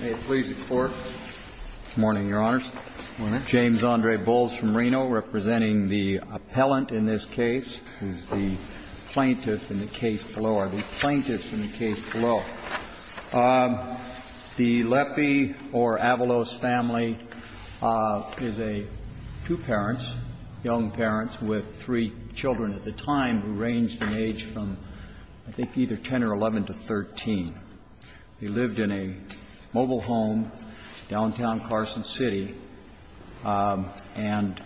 May it please the Court. Good morning, Your Honors. Good morning. James Andre Bowles from Reno, representing the appellant in this case, who is the plaintiff in the case below, or the plaintiff in the case below. The Lepi or Avalos family is two parents, young parents, with three children at the time, who ranged in age from, I think, either 10 or 11 to 13. They lived in a mobile home, downtown Carson City, and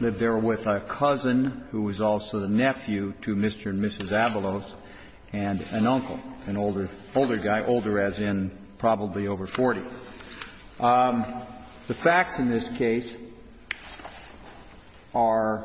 lived there with a cousin who was also the nephew to Mr. and Mrs. Avalos, and an uncle, an older guy, older as in probably over 40. The facts in this case are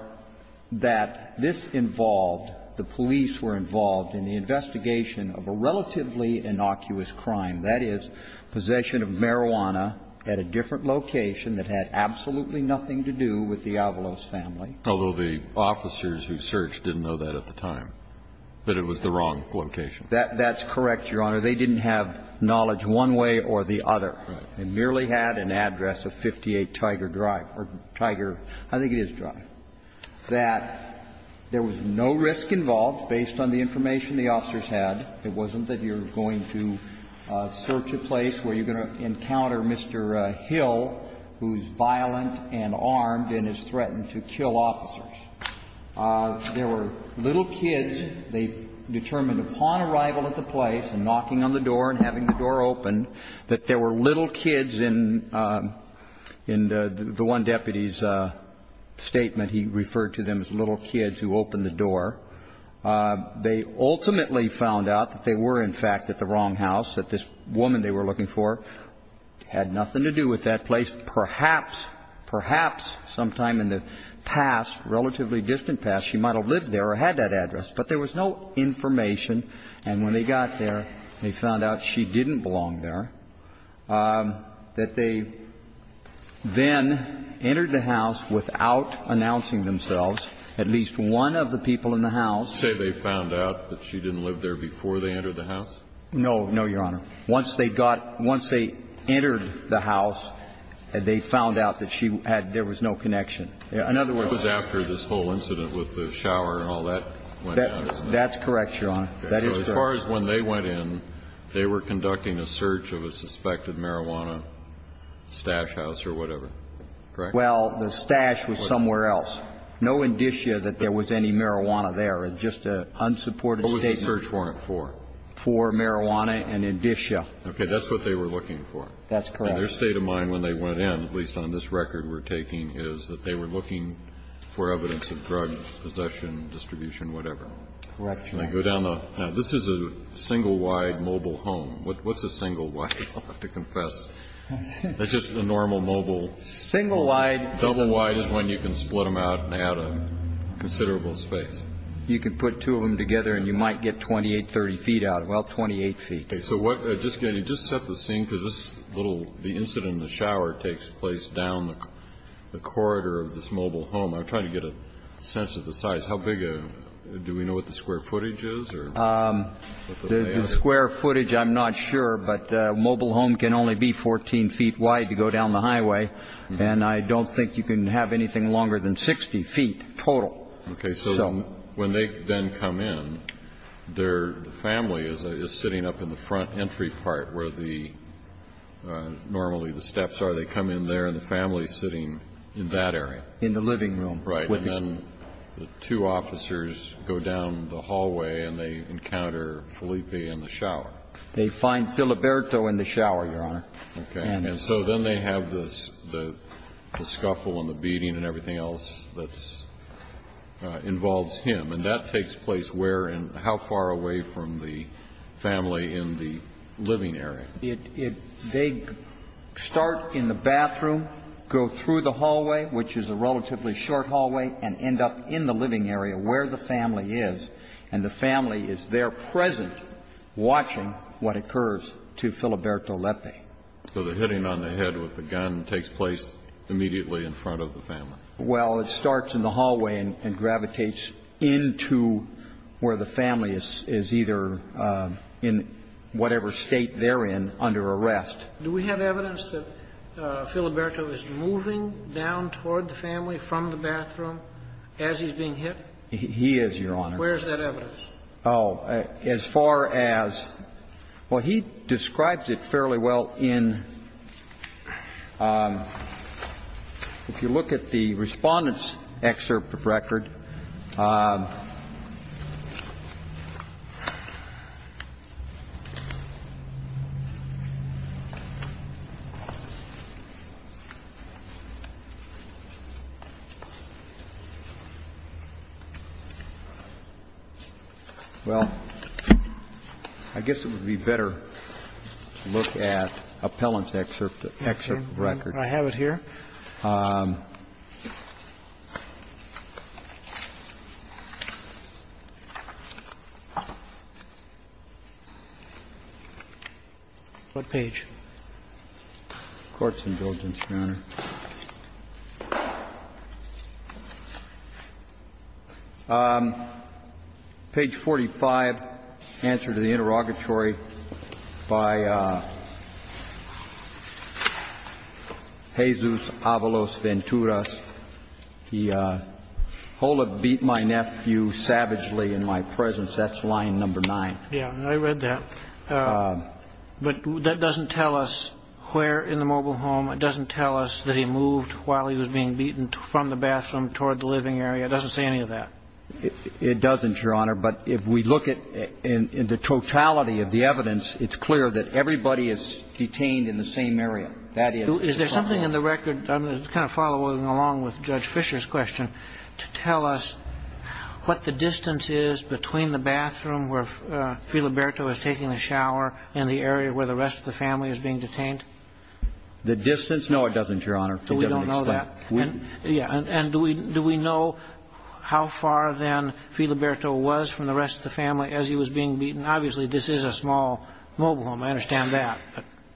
that this involved, the police were involved in the investigation of a relatively innocuous crime, that is, possession of marijuana at a different location that had absolutely nothing to do with the Avalos family. Although the officers who searched didn't know that at the time, that it was the wrong location. That's correct, Your Honor. They didn't have knowledge one way or the other. They merely had an address of 58 Tiger Drive, or Tiger, I think it is Drive. And the fact is that there was no risk involved based on the information the officers had. It wasn't that you're going to search a place where you're going to encounter Mr. Hill, who's violent and armed and has threatened to kill officers. There were little kids. They determined upon arrival at the place and knocking on the door and having the door open, that there were little kids in the one deputy's statement. He referred to them as little kids who opened the door. They ultimately found out that they were, in fact, at the wrong house, that this woman they were looking for had nothing to do with that place. Perhaps, perhaps sometime in the past, relatively distant past, she might have lived there or had that address, but there was no information. And when they got there, they found out she didn't belong there, that they then entered the house without announcing themselves. At least one of the people in the house. Say they found out that she didn't live there before they entered the house? No. No, Your Honor. Once they got, once they entered the house, they found out that she had, there was no connection. In other words. It was after this whole incident with the shower and all that went down, isn't it? That's correct, Your Honor. That is correct. As far as when they went in, they were conducting a search of a suspected marijuana stash house or whatever, correct? Well, the stash was somewhere else. No indicia that there was any marijuana there. It's just an unsupported statement. What was the search warrant for? For marijuana and indicia. Okay. That's what they were looking for. That's correct. And their state of mind when they went in, at least on this record we're taking, is that they were looking for evidence of drug possession, distribution, whatever. Correct, Your Honor. Now, this is a single-wide mobile home. What's a single-wide? I'll have to confess. It's just a normal mobile. Single-wide. Double-wide is when you can split them out and add a considerable space. You can put two of them together and you might get 28, 30 feet out. Well, 28 feet. Okay. So what, just, can you just set the scene? Because this little, the incident in the shower takes place down the corridor of this mobile home. I'm trying to get a sense of the size. How big, do we know what the square footage is? The square footage, I'm not sure, but a mobile home can only be 14 feet wide to go down the highway, and I don't think you can have anything longer than 60 feet total. Okay. So when they then come in, their family is sitting up in the front entry part where the, normally the steps are. They come in there and the family is sitting in that area. In the living room. And then the two officers go down the hallway and they encounter Felipe in the shower. They find Filiberto in the shower, Your Honor. Okay. And so then they have this, the scuffle and the beating and everything else that involves him. And that takes place where and how far away from the family in the living area? They start in the bathroom, go through the hallway, which is a relatively short hallway, and end up in the living area where the family is. And the family is there present watching what occurs to Filiberto Lepe. So the hitting on the head with the gun takes place immediately in front of the family. Well, it starts in the hallway and gravitates into where the family is either in the bathroom or in whatever state they're in under arrest. Do we have evidence that Filiberto is moving down toward the family from the bathroom as he's being hit? He is, Your Honor. Where is that evidence? Oh, as far as, well, he describes it fairly well in, if you look at the Respondent's Excerpt of Record. Well, I guess it would be better to look at Appellant's Excerpt of Record. I have it here. What page? Page 45, Answer to the Interrogatory by Jesus Avalos Venturas. He, Hola beat my nephew savagely in my presence. That's line number nine. Yeah, I read that. But that doesn't tell us where in the mobile home. It doesn't tell us that he moved while he was being beaten from the bathroom toward the living area. It doesn't say any of that. It doesn't, Your Honor. But if we look at the totality of the evidence, it's clear that everybody is detained in the same area. That is. Is there something in the record, kind of following along with Judge Fisher's question, to tell us what the distance is between the bathroom where Filiberto was taking a shower and the area where the rest of the family is being detained? The distance? No, it doesn't, Your Honor. To what extent? We don't know that. Yeah. And do we know how far then Filiberto was from the rest of the family as he was being beaten? Obviously, this is a small mobile home. I understand that.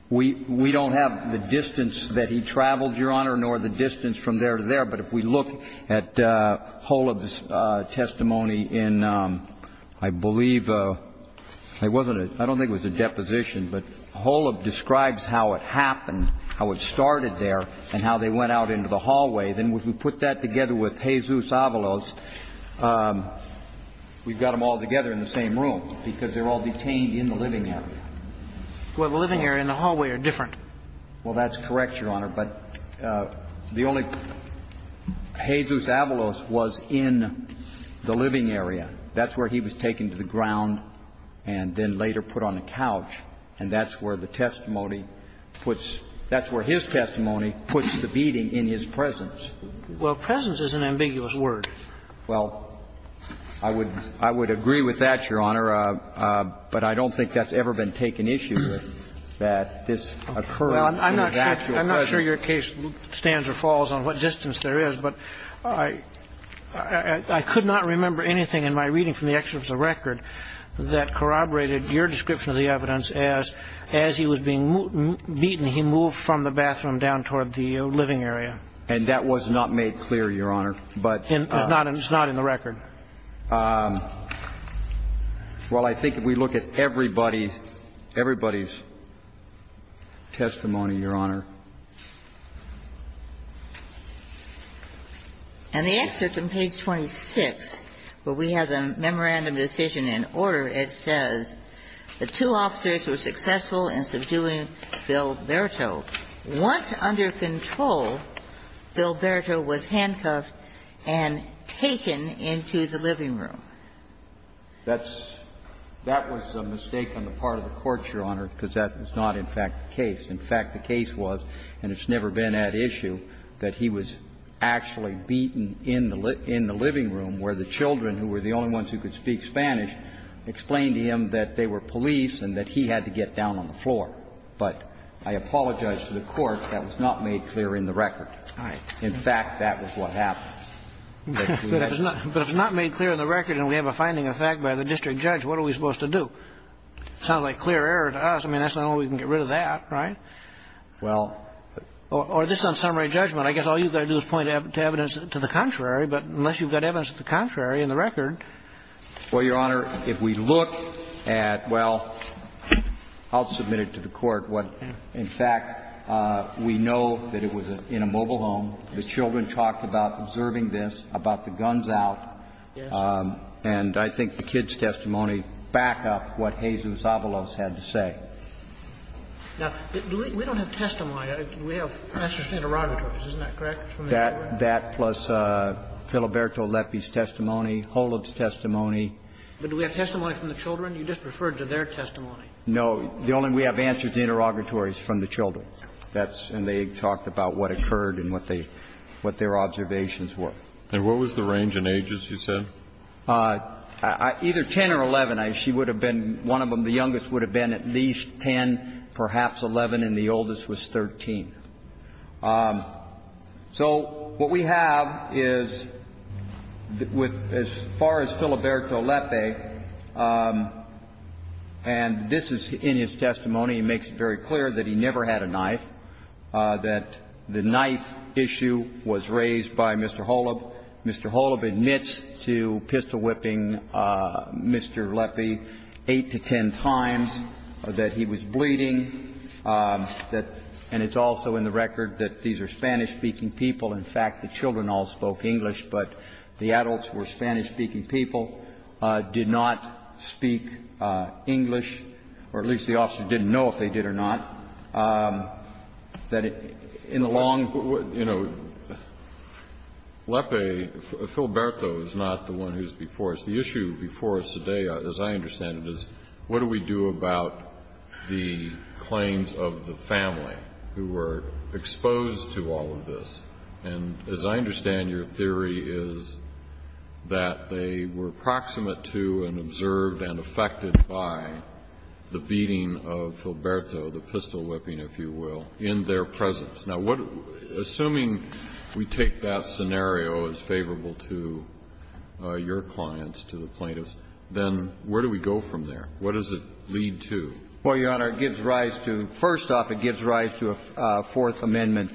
We don't have the distance that he traveled, Your Honor, nor the distance from there to there. But if we look at Holub's testimony in, I believe, it wasn't a – I don't think it was a deposition, but Holub describes how it happened, how it started there, and how they went out into the hallway. Then if we put that together with Jesus Avalos, we've got them all together in the same room because they're all detained in the living area. Well, the living area and the hallway are different. Well, that's correct, Your Honor. But the only – Jesus Avalos was in the living area. That's where he was taken to the ground and then later put on a couch. And that's where the testimony puts – that's where his testimony puts the beating in his presence. Well, presence is an ambiguous word. Well, I would – I would agree with that, Your Honor. But I don't think that's ever been taken issue, that this occurred in his actual presence. Well, I'm not sure your case stands or falls on what distance there is, but I could not remember anything in my reading from the excerpts of the record that corroborated your description of the evidence as, as he was being beaten, he moved from the bathroom down toward the living area. And that was not made clear, Your Honor. It's not in the record. Well, I think if we look at everybody's – everybody's testimony, Your Honor. And the excerpt on page 26, where we have the memorandum decision in order, it says, the two officers were successful in subduing Bilberto. Once under control, Bilberto was handcuffed and taken into the living room. That's – that was a mistake on the part of the courts, Your Honor, because that was not, in fact, the case. In fact, the case was, and it's never been at issue, that he was actually beaten in the living room where the children, who were the only ones who could speak Spanish, explained to him that they were police and that he had to get down on the floor. But I apologize to the Court. That was not made clear in the record. All right. In fact, that was what happened. But if it's not made clear in the record and we have a finding of fact by the district judge, what are we supposed to do? It sounds like clear error to us. I mean, that's the only way we can get rid of that, right? Well – Or just on summary judgment, I guess all you've got to do is point to evidence to the contrary. But unless you've got evidence to the contrary in the record – Well, Your Honor, if we look at, well, I'll submit it to the Court. In fact, we know that it was in a mobile home. The children talked about observing this, about the guns out. Yes. And I think the kids' testimony back up what Jesus Avalos had to say. Now, we don't have testimony. We have professors' interrogatories. Isn't that correct? That plus Filiberto Lepi's testimony, Holub's testimony. But do we have testimony from the children? You just referred to their testimony. No. The only – we have answers to the interrogatories from the children. That's – and they talked about what occurred and what they – what their observations were. And what was the range in ages, you said? Either 10 or 11. She would have been – one of them, the youngest, would have been at least 10, perhaps 11, and the oldest was 13. So what we have is, with – as far as Filiberto Lepi, and this is in his testimony, he makes it very clear that he never had a knife, that the knife issue was raised by Mr. Holub. Mr. Holub admits to pistol-whipping Mr. Lepi 8 to 10 times, that he was bleeding, that – and it's also in the record that these are Spanish-speaking people. In fact, the children all spoke English, but the adults who were Spanish-speaking people did not speak English, or at least the officers didn't know if they did or not, that in the long – You know, Lepi, Filiberto is not the one who's before us. The issue before us today, as I understand it, is what do we do about the claims of the family who were exposed to all of this? And as I understand, your theory is that they were proximate to and observed and affected by the beating of Filiberto, the pistol-whipping, if you will, in their presence. Now, what – assuming we take that scenario as favorable to your clients, to the plaintiffs, then where do we go from there? What does it lead to? Well, Your Honor, it gives rise to – first off, it gives rise to a Fourth Amendment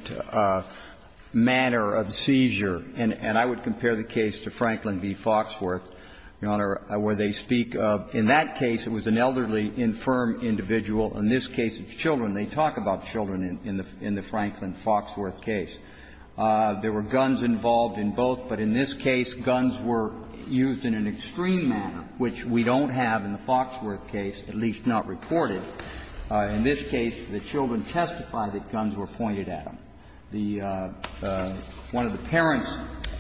manner of seizure, and I would compare the case to Franklin v. Foxworth, Your Honor, where they speak of, in that case, it was an elderly, infirm individual. In this case, it's children. They talk about children in the Franklin-Foxworth case. There were guns involved in both, but in this case, guns were used in an extreme manner, which we don't have in the Foxworth case, at least not reported. In this case, the children testified that guns were pointed at them. The – one of the parents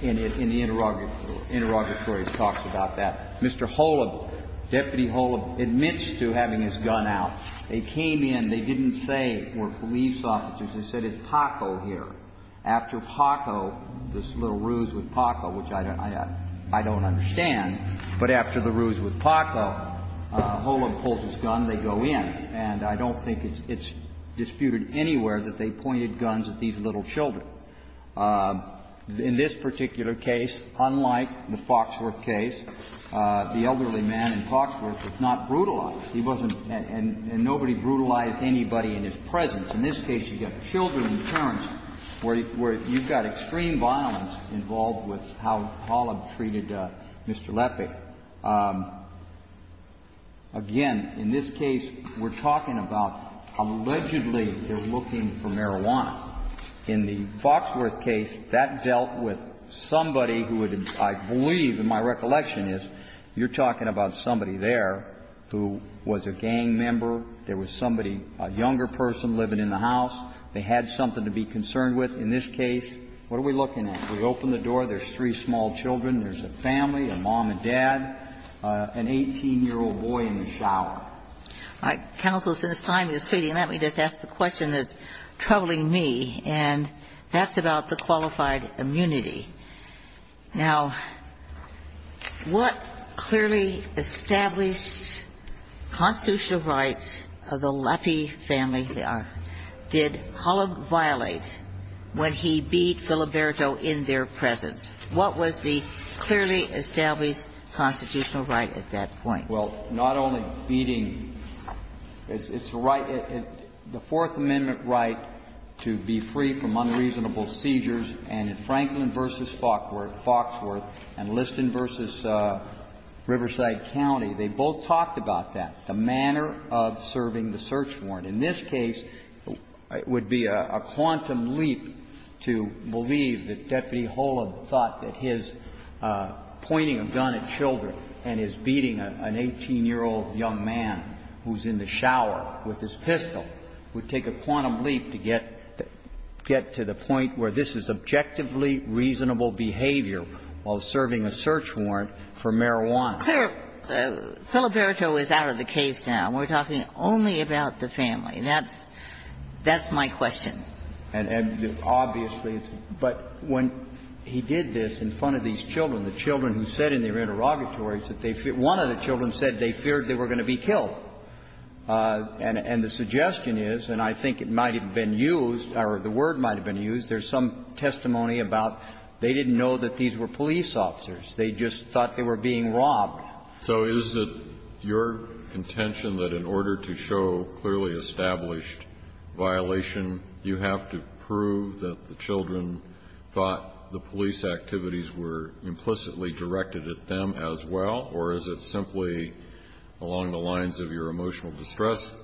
in the interrogatory talks about that. Mr. Holub, Deputy Holub, admits to having his gun out. They came in. They didn't say, were police officers. They said, it's Paco here. After Paco, this little ruse with Paco, which I don't understand, but after the ruse with Paco, Holub pulls his gun, they go in. And I don't think it's disputed anywhere that they pointed guns at these little children. In this particular case, unlike the Foxworth case, the elderly man in Foxworth was not brutalized. He wasn't – and nobody brutalized anybody in his presence. In this case, you've got children and parents where you've got extreme violence involved with how Holub treated Mr. Lepe. Again, in this case, we're talking about allegedly they're looking for marijuana in the Foxworth case. That dealt with somebody who would, I believe, in my recollection is, you're talking about somebody there who was a gang member. There was somebody, a younger person, living in the house. They had something to be concerned with. In this case, what are we looking at? We open the door, there's three small children. There's a family, a mom and dad, an 18-year-old boy in the shower. Now, counsel, since time is fleeting, let me just ask the question that's troubling me, and that's about the qualified immunity. Now, what clearly established constitutional right of the Lepe family did Holub violate when he beat Filiberto in their presence? What was the clearly established constitutional right at that point? Well, not only beating the right, the Fourth Amendment right to be free from unreasonable seizures, and in Franklin v. Foxworth and Liston v. Riverside County, they both talked about that, the manner of serving the search warrant. In this case, it would be a quantum leap to believe that Deputy Holub thought that his pointing a gun at children and his beating an 18-year-old young man who's in the shower with his pistol would take a quantum leap to get to the point where this is objectively reasonable behavior while serving a search warrant for marijuana. Filiberto is out of the case now. We're talking only about the family. That's my question. And obviously, but when he did this in front of these children, the children who said in their interrogatories that they feared one of the children said they feared they were going to be killed. And the suggestion is, and I think it might have been used, or the word might have been used, there's some testimony about they didn't know that these were police officers. They just thought they were being robbed. So is it your contention that in order to show clearly established violation, you have to prove that the children thought the police activities were implicitly directed at them as well, or is it simply along the lines of your emotional distress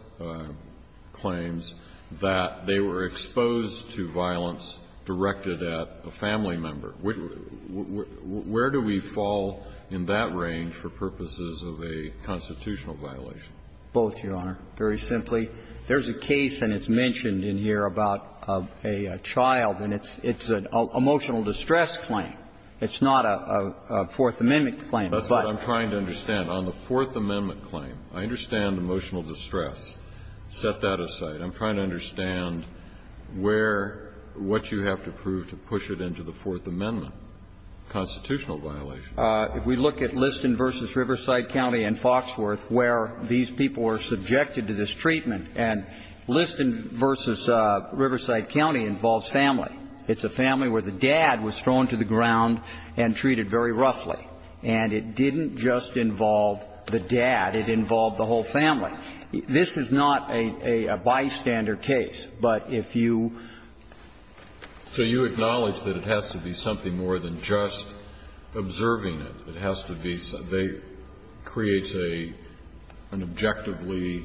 claims that they were exposed to violence directed at a family member? Where do we fall in that range for purposes of a constitutional violation? Both, Your Honor. Very simply, there's a case, and it's mentioned in here, about a child, and it's an emotional distress claim. It's not a Fourth Amendment claim. That's what I'm trying to understand. On the Fourth Amendment claim, I understand emotional distress. Set that aside. I'm trying to understand where what you have to prove to push it into the Fourth Amendment constitutional violation. If we look at Liston v. Riverside County and Foxworth, where these people were subjected to this treatment, and Liston v. Riverside County involves family. It's a family where the dad was thrown to the ground and treated very roughly. And it didn't just involve the dad. It involved the whole family. This is not a bystander case. But if you ---- So you acknowledge that it has to be something more than just observing it. It has to be ---- creates an objectively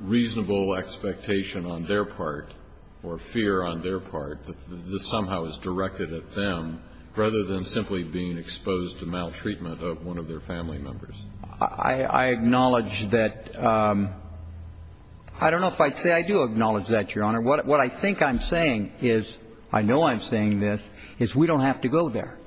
reasonable expectation on their part, or fear on their part, that this somehow is directed at them, rather than simply being exposed to maltreatment of one of their family members. I acknowledge that ---- I don't know if I'd say I do acknowledge that, Your Honor. What I think I'm saying is ---- I know I'm saying this ---- is we don't have to go there.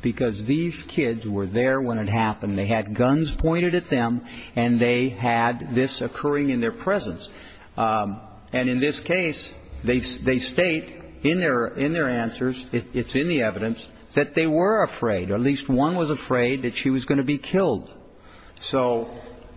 Because these kids were there when it happened. They had guns pointed at them, and they had this occurring in their presence. And in this case, they state in their answers, it's in the evidence, that they were afraid, or at least one was afraid, that she was going to be killed. So,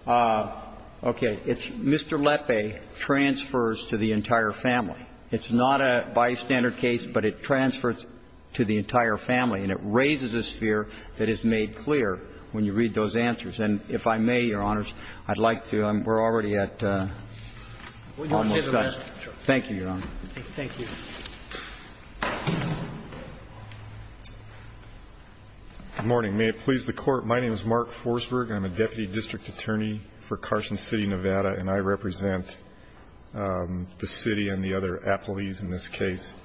okay, it's Mr. Lepe transfers to the entire family. It's not a bystander case, but it transfers to the entire family. And it raises a sphere that is made clear when you read those answers. And if I may, Your Honors, I'd like to ---- we're already at almost done. Thank you, Your Honor. Thank you. Good morning. May it please the Court. My name is Mark Forsberg. I'm a deputy district attorney for Carson City, Nevada. And I represent the city and the other employees in this case.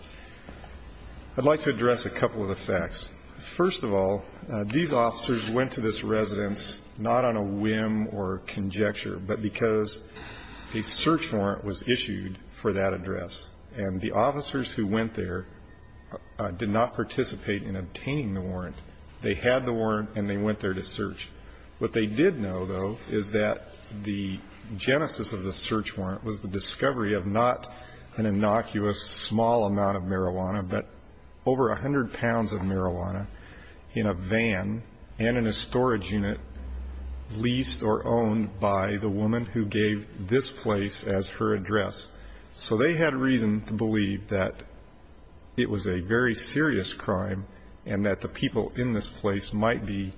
I'd like to address a couple of the facts. First of all, these officers went to this residence not on a whim or conjecture, but because a search warrant was issued for that address. And the officers who went there did not participate in obtaining the warrant. What they did know, though, is that the genesis of the search warrant was the discovery of not an innocuous small amount of marijuana, but over 100 pounds of marijuana in a van and in a storage unit leased or owned by the woman who gave this place as her address. So they had reason to believe that it was a very serious crime and that the people in this place might be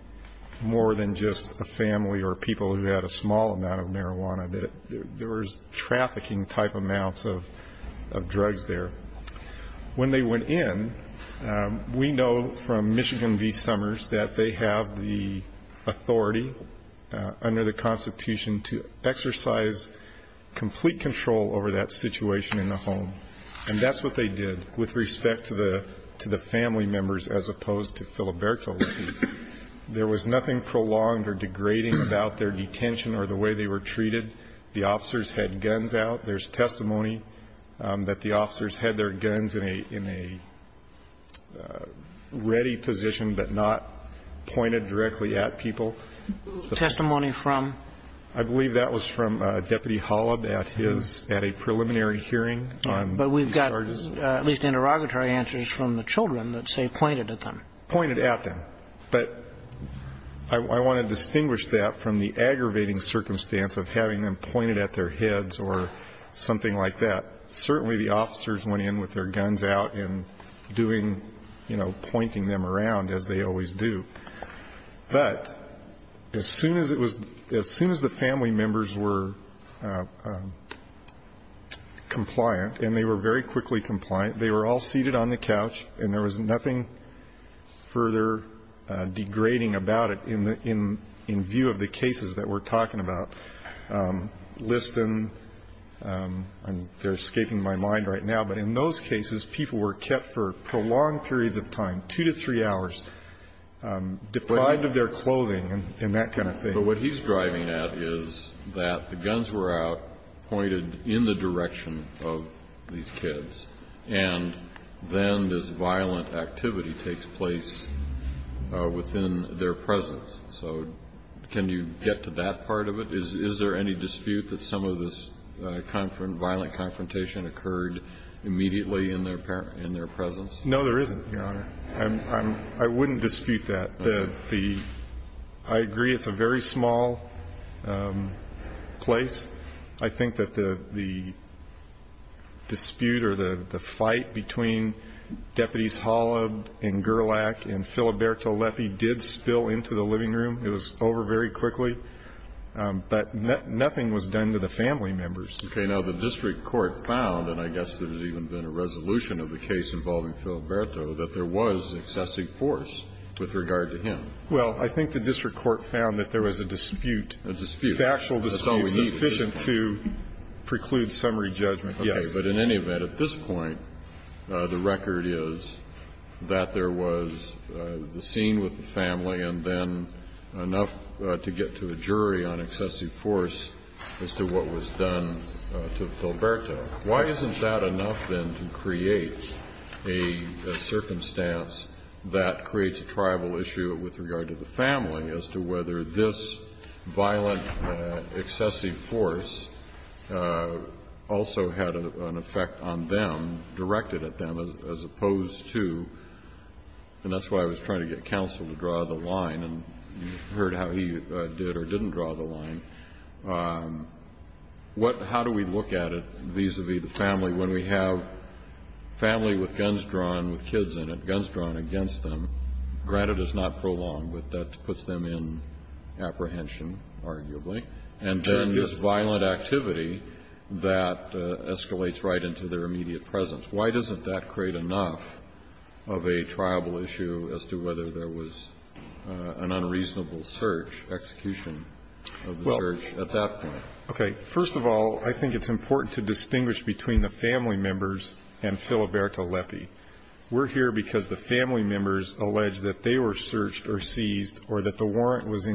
more than just a family or people who had a small amount of marijuana, that there was trafficking type amounts of drugs there. When they went in, we know from Michigan v. Summers that they have the authority under the Constitution to exercise complete control over that situation in the home. And that's what they did with respect to the family members as opposed to Filiberto. There was nothing prolonged or degrading about their detention or the way they were treated. The officers had guns out. There's testimony that the officers had their guns in a ready position, but not pointed directly at people. Testimony from? I believe that was from Deputy Holub at his, at a preliminary hearing. But we've got at least interrogatory answers from the children that say pointed at them. Pointed at them. But I want to distinguish that from the aggravating circumstance of having them pointed at their heads or something like that. Certainly the officers went in with their guns out and doing, you know, pointing them around as they always do. But as soon as it was, as soon as the family members were compliant, and they were very quickly compliant, they were all seated on the couch and there was nothing further degrading about it in view of the cases that we're talking about. Liston, they're escaping my mind right now, but in those cases, people were kept for prolonged periods of time, 2 to 3 hours. Deprived of their clothing and that kind of thing. But what he's driving at is that the guns were out, pointed in the direction of these kids, and then this violent activity takes place within their presence. So can you get to that part of it? Is there any dispute that some of this violent confrontation occurred immediately in their presence? No, there isn't, Your Honor. I wouldn't dispute that. I agree it's a very small place. I think that the dispute or the fight between Deputies Holub and Gerlach and Filiberto Lepe did spill into the living room. It was over very quickly. But nothing was done to the family members. Okay, now the district court found, and I guess there's even been a resolution of the case involving Filiberto, that there was excessive force with regard to him. Well, I think the district court found that there was a dispute. A dispute. A factual dispute sufficient to preclude summary judgment. Yes. Okay. But in any event, at this point, the record is that there was the scene with the family and then enough to get to a jury on excessive force as to what was done to Filiberto. Why isn't that enough, then, to create a circumstance that creates a tribal issue with regard to the family as to whether this violent excessive force also had an effect on them, directed at them, as opposed to? And that's why I was trying to get counsel to draw the line, and you heard how he did or didn't draw the line. How do we look at it vis-a-vis the family when we have family with guns drawn, with kids in it, guns drawn against them? Granted, it's not prolonged, but that puts them in apprehension, arguably. And then this violent activity that escalates right into their immediate presence. Why doesn't that create enough of a tribal issue as to whether there was an unreasonable search, execution of the search? At that point. Okay. First of all, I think it's important to distinguish between the family members and Filiberto Lepi. We're here because the family members allege that they were searched or seized or that the warrant was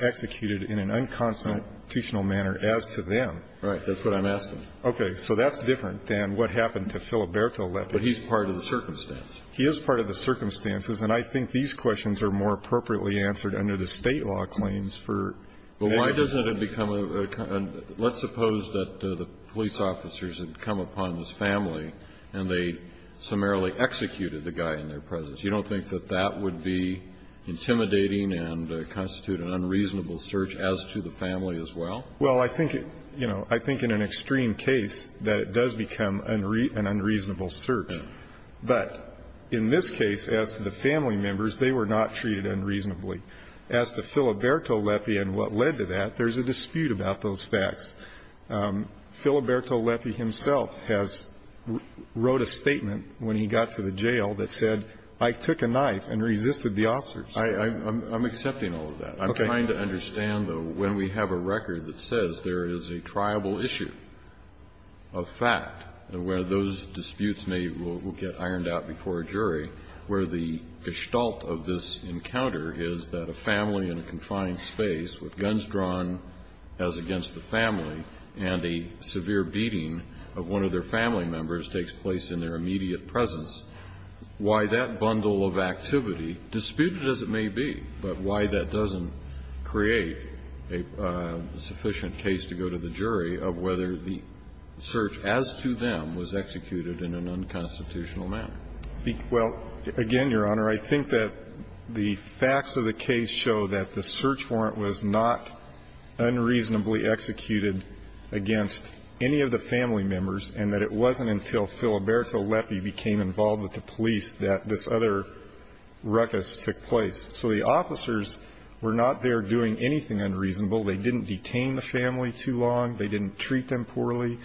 executed in an unconstitutional manner as to them. Right. That's what I'm asking. Okay. So that's different than what happened to Filiberto Lepi. But he's part of the circumstance. He is part of the circumstances, and I think these questions are more appropriately answered under the State law claims for evidence. But why doesn't it become a – let's suppose that the police officers had come upon this family and they summarily executed the guy in their presence. You don't think that that would be intimidating and constitute an unreasonable search as to the family as well? Well, I think, you know, I think in an extreme case that it does become an unreasonable search. But in this case, as to the family members, they were not treated unreasonably. As to Filiberto Lepi and what led to that, there's a dispute about those facts. Filiberto Lepi himself has wrote a statement when he got to the jail that said, I took a knife and resisted the officers. I'm accepting all of that. Okay. I'm trying to understand, though, when we have a record that says there is a triable issue of fact where those disputes may get ironed out before a jury, where the gestalt of this encounter is that a family in a confined space with guns drawn as against the family and a severe beating of one of their family members takes place in their immediate presence, why that bundle of activity, disputed as it may be, but why that doesn't create a sufficient case to go to the jury of whether the search as to them was executed in an unconstitutional manner? Well, again, Your Honor, I think that the facts of the case show that the search warrant was not unreasonably executed against any of the family members and that it wasn't until Filiberto Lepi became involved with the police that this other ruckus took place. So the officers were not there doing anything unreasonable. They didn't detain the family too long. They didn't treat them poorly.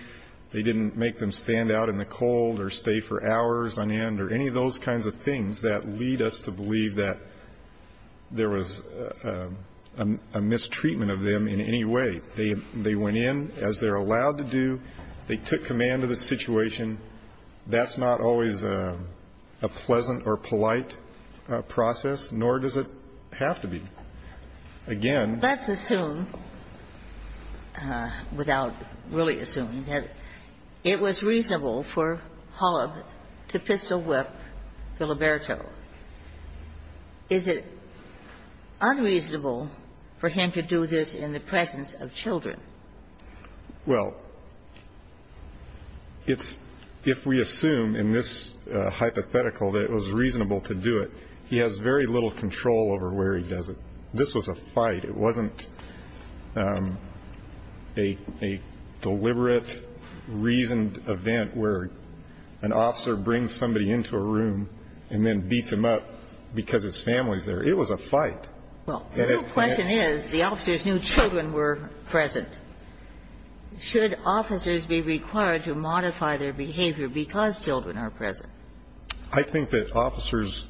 They didn't make them stand out in the cold or stay for hours on end or any of those kinds of things that lead us to believe that there was a mistreatment of them in any way. They went in as they're allowed to do. They took command of the situation. That's not always a pleasant or polite process, nor does it have to be. Again ---- Let's assume, without really assuming, that it was reasonable for Holub to pistol-whip Filiberto. Is it unreasonable for him to do this in the presence of children? Well, it's ---- if we assume in this hypothetical that it was reasonable to do it, he has very little control over where he does it. This was a fight. It wasn't a deliberate, reasoned event where an officer brings somebody into a room and then beats him up because his family's there. It was a fight. Well, the real question is the officers knew children were present. Should officers be required to modify their behavior because children are present? I think that officers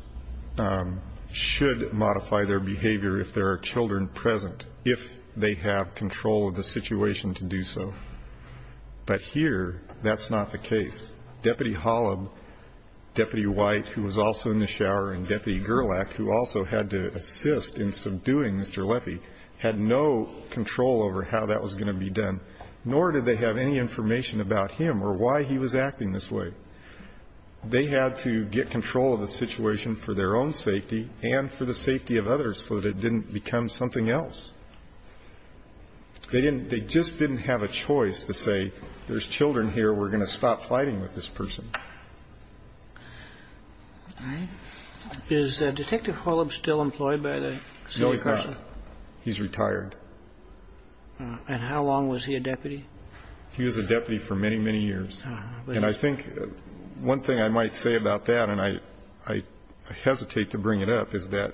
should modify their behavior if there are children present, if they have control of the situation to do so. But here, that's not the case. Deputy Holub, Deputy White, who was also in the shower, and Deputy Gerlach, who also had to assist in subduing Mr. Leffy, had no control over how that was going to be done, nor did they have any information about him or why he was acting this way. They had to get control of the situation for their own safety and for the safety of others so that it didn't become something else. They didn't ---- they just didn't have a choice to say, there's children here, we're going to stop fighting with this person. Is Detective Holub still employed by the same person? No, he's not. He's retired. And how long was he a deputy? He was a deputy for many, many years. And I think one thing I might say about that, and I hesitate to bring it up, is that,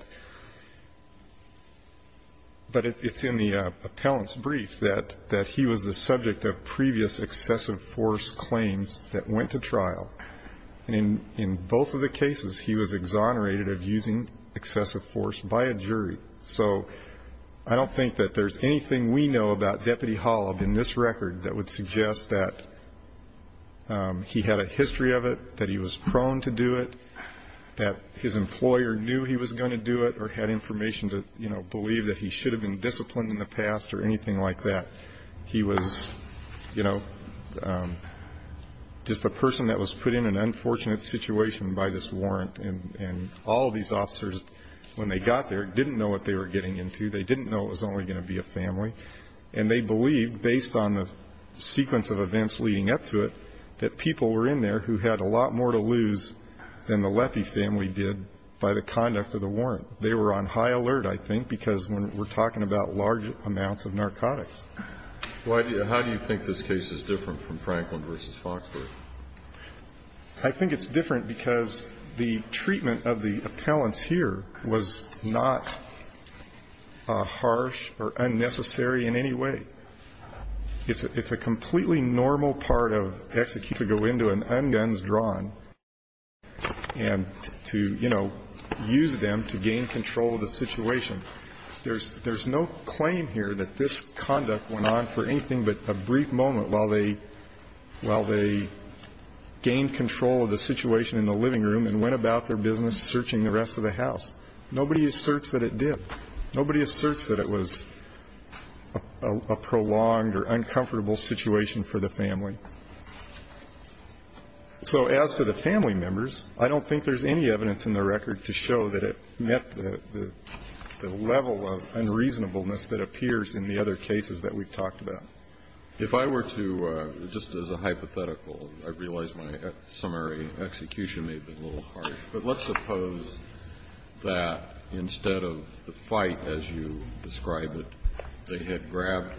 but it's in the appellant's brief that he was the subject of previous excessive force claims that went to trial. And in both of the cases, he was exonerated of using excessive force by a jury. So I don't think that there's anything we know about Deputy Holub in this record that would suggest that he had a history of it, that he was prone to do it, that his employer knew he was going to do it or had information to believe that he should have been disciplined in the past or anything like that. He was just a person that was put in an unfortunate situation by this warrant. And all of these officers, when they got there, didn't know what they were getting into. They didn't know it was only going to be a family. And they believed, based on the sequence of events leading up to it, that people were in there who had a lot more to lose than the Leffy family did by the conduct of the warrant. They were on high alert, I think, because we're talking about large amounts of narcotics. How do you think this case is different from Franklin versus Foxford? I think it's different because the treatment of the appellants here was not harsh or unnecessary in any way. It's a completely normal part of execution to go into an un-guns-drawn and to use them to gain control of the situation. There's no claim here that this conduct went on for anything but a brief moment while they gained control of the situation in the living room and went about their business searching the rest of the house. Nobody asserts that it did. Nobody asserts that it was a prolonged or uncomfortable situation for the family. So as for the family members, I don't think there's any evidence in the record to show that it met the level of unreasonableness that appears in the other cases that we've talked about. If I were to, just as a hypothetical, I realize my summary execution may have been a little harsh. But let's suppose that instead of the fight as you describe it, they had grabbed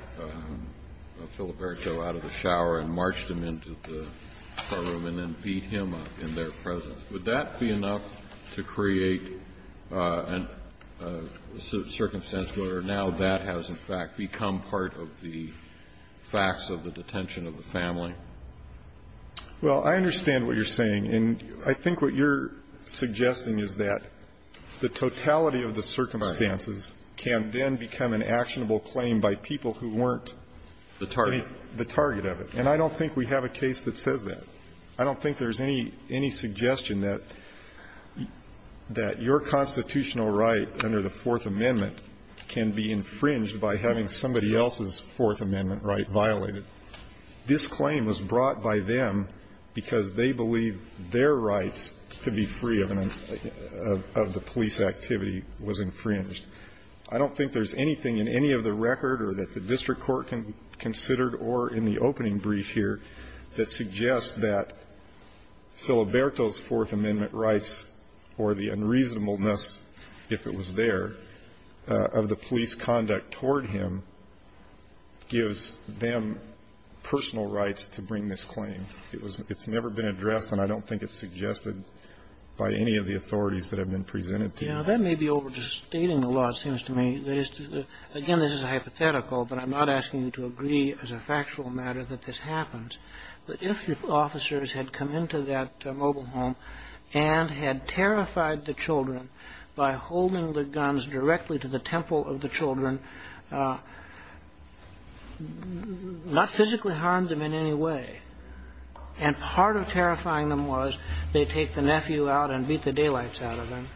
Filiberto out of the shower and marched him into the courtroom and then beat him up in their presence. Would that be enough to create a circumstance where now that has in fact become part of the facts of the detention of the family? Well, I understand what you're saying. And I think what you're suggesting is that the totality of the circumstances can then become an actionable claim by people who weren't the target of it. And I don't think we have a case that says that. I don't think there's any suggestion that your constitutional right under the Fourth Amendment can be infringed by having somebody else's Fourth Amendment right violated. This claim was brought by them because they believe their rights to be free of an, of the police activity was infringed. I don't think there's anything in any of the record or that the district court can consider or in the opening brief here that suggests that Filiberto's Fourth Amendment rights or the unreasonableness, if it was there, of the police conduct toward him gives them personal rights to bring this claim. It was, it's never been addressed, and I don't think it's suggested by any of the authorities that have been presented to you. Yeah, that may be overstating the law, it seems to me. That is to, again, this is a hypothetical, but I'm not asking you to agree as a factual matter that this happens. But if the officers had come into that mobile home and not physically harmed him in any way, and part of terrifying them was they take the nephew out and beat the daylights out of him,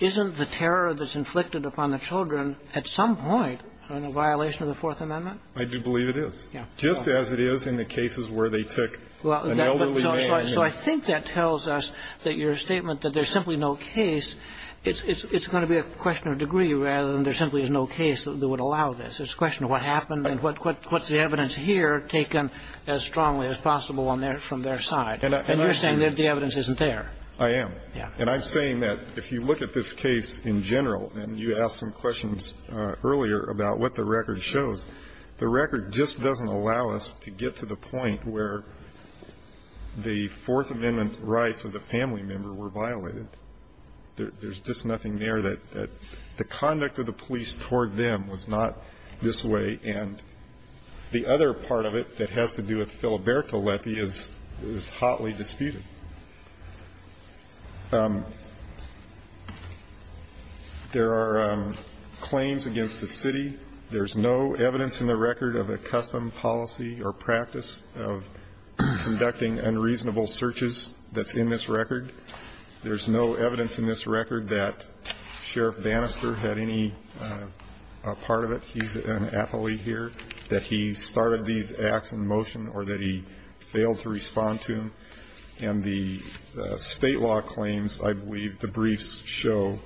isn't the terror that's inflicted upon the children at some point a violation of the Fourth Amendment? I do believe it is. Yeah. Just as it is in the cases where they took an elderly man. So I think that tells us that your statement that there's simply no case, it's going to be a question of degree rather than there simply is no case that would allow this, it's a question of what happened and what's the evidence here taken as strongly as possible from their side, and you're saying that the evidence isn't there. I am. Yeah. And I'm saying that if you look at this case in general, and you asked some questions earlier about what the record shows, the record just doesn't allow us to get to the point where the Fourth Amendment rights of the family member were violated. There's just nothing there that the conduct of the police toward them was not this way. And the other part of it that has to do with Philberto Lepi is hotly disputed. There are claims against the city. There's no evidence in the record of a custom policy or practice of conducting unreasonable searches that's in this record. There's no evidence in this record that Sheriff Bannister had any part of it. He's an athlete here, that he started these acts in motion or that he failed to respond to, and the state law claims, I believe the briefs show,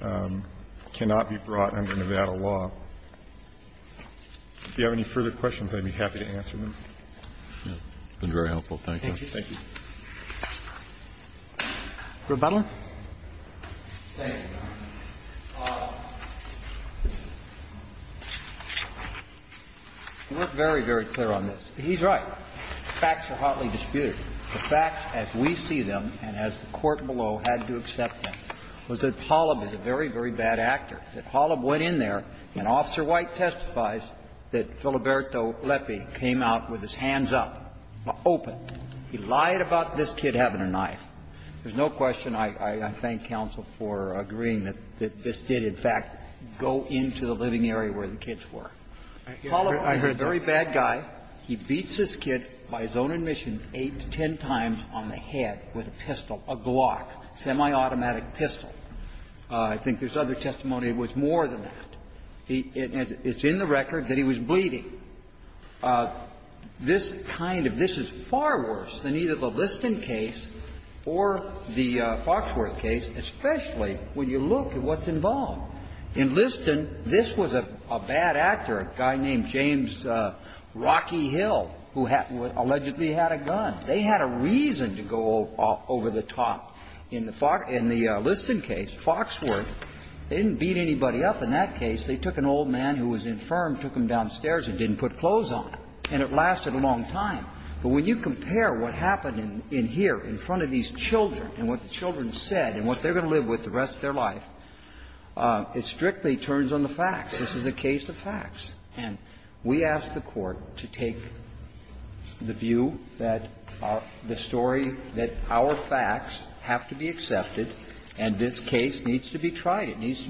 cannot be brought under Nevada law. If you have any further questions, I'd be happy to answer them. Thank you. Thank you. Rebuttal? We're very, very clear on this. He's right, facts are hotly disputed. The facts as we see them and as the court below had to accept them was that Holub is a very, very bad actor, that Holub went in there and Officer White testifies that Philberto Lepi came out with his hands up, open. He lied about this kid having a knife. There's no question I thank counsel for agreeing that this did, in fact, go into the living area where the kids were. Holub is a very bad guy. He beats this kid by his own admission eight to ten times on the head with a pistol, a Glock, semi-automatic pistol. I think there's other testimony that it was more than that. It's in the record that he was bleeding. This kind of – this is far worse than either the Liston case or the Foxworth case, especially when you look at what's involved. In Liston, this was a bad actor, a guy named James Rocky Hill, who had – who allegedly had a gun. They had a reason to go over the top. In the Liston case, Foxworth, they didn't beat anybody up in that case. They took an old man who was infirmed, took him downstairs, and didn't put clothes on him. And it lasted a long time. But when you compare what happened in here in front of these children and what the children said and what they're going to live with the rest of their life, it strictly turns on the facts. This is a case of facts. And we ask the Court to take the view that the story that our facts have to be accepted, and this case needs to be tried. It needs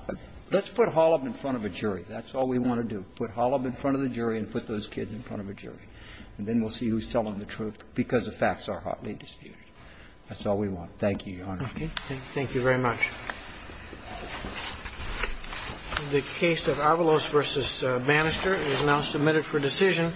– let's put Holub in front of a jury. That's all we want to do, put Holub in front of the jury and put those kids in front of a jury. And then we'll see who's telling the truth because the facts are hotly disputed. That's all we want. Thank you, Your Honor. Thank you very much. The case of Avalos v. Bannister is now submitted for decision.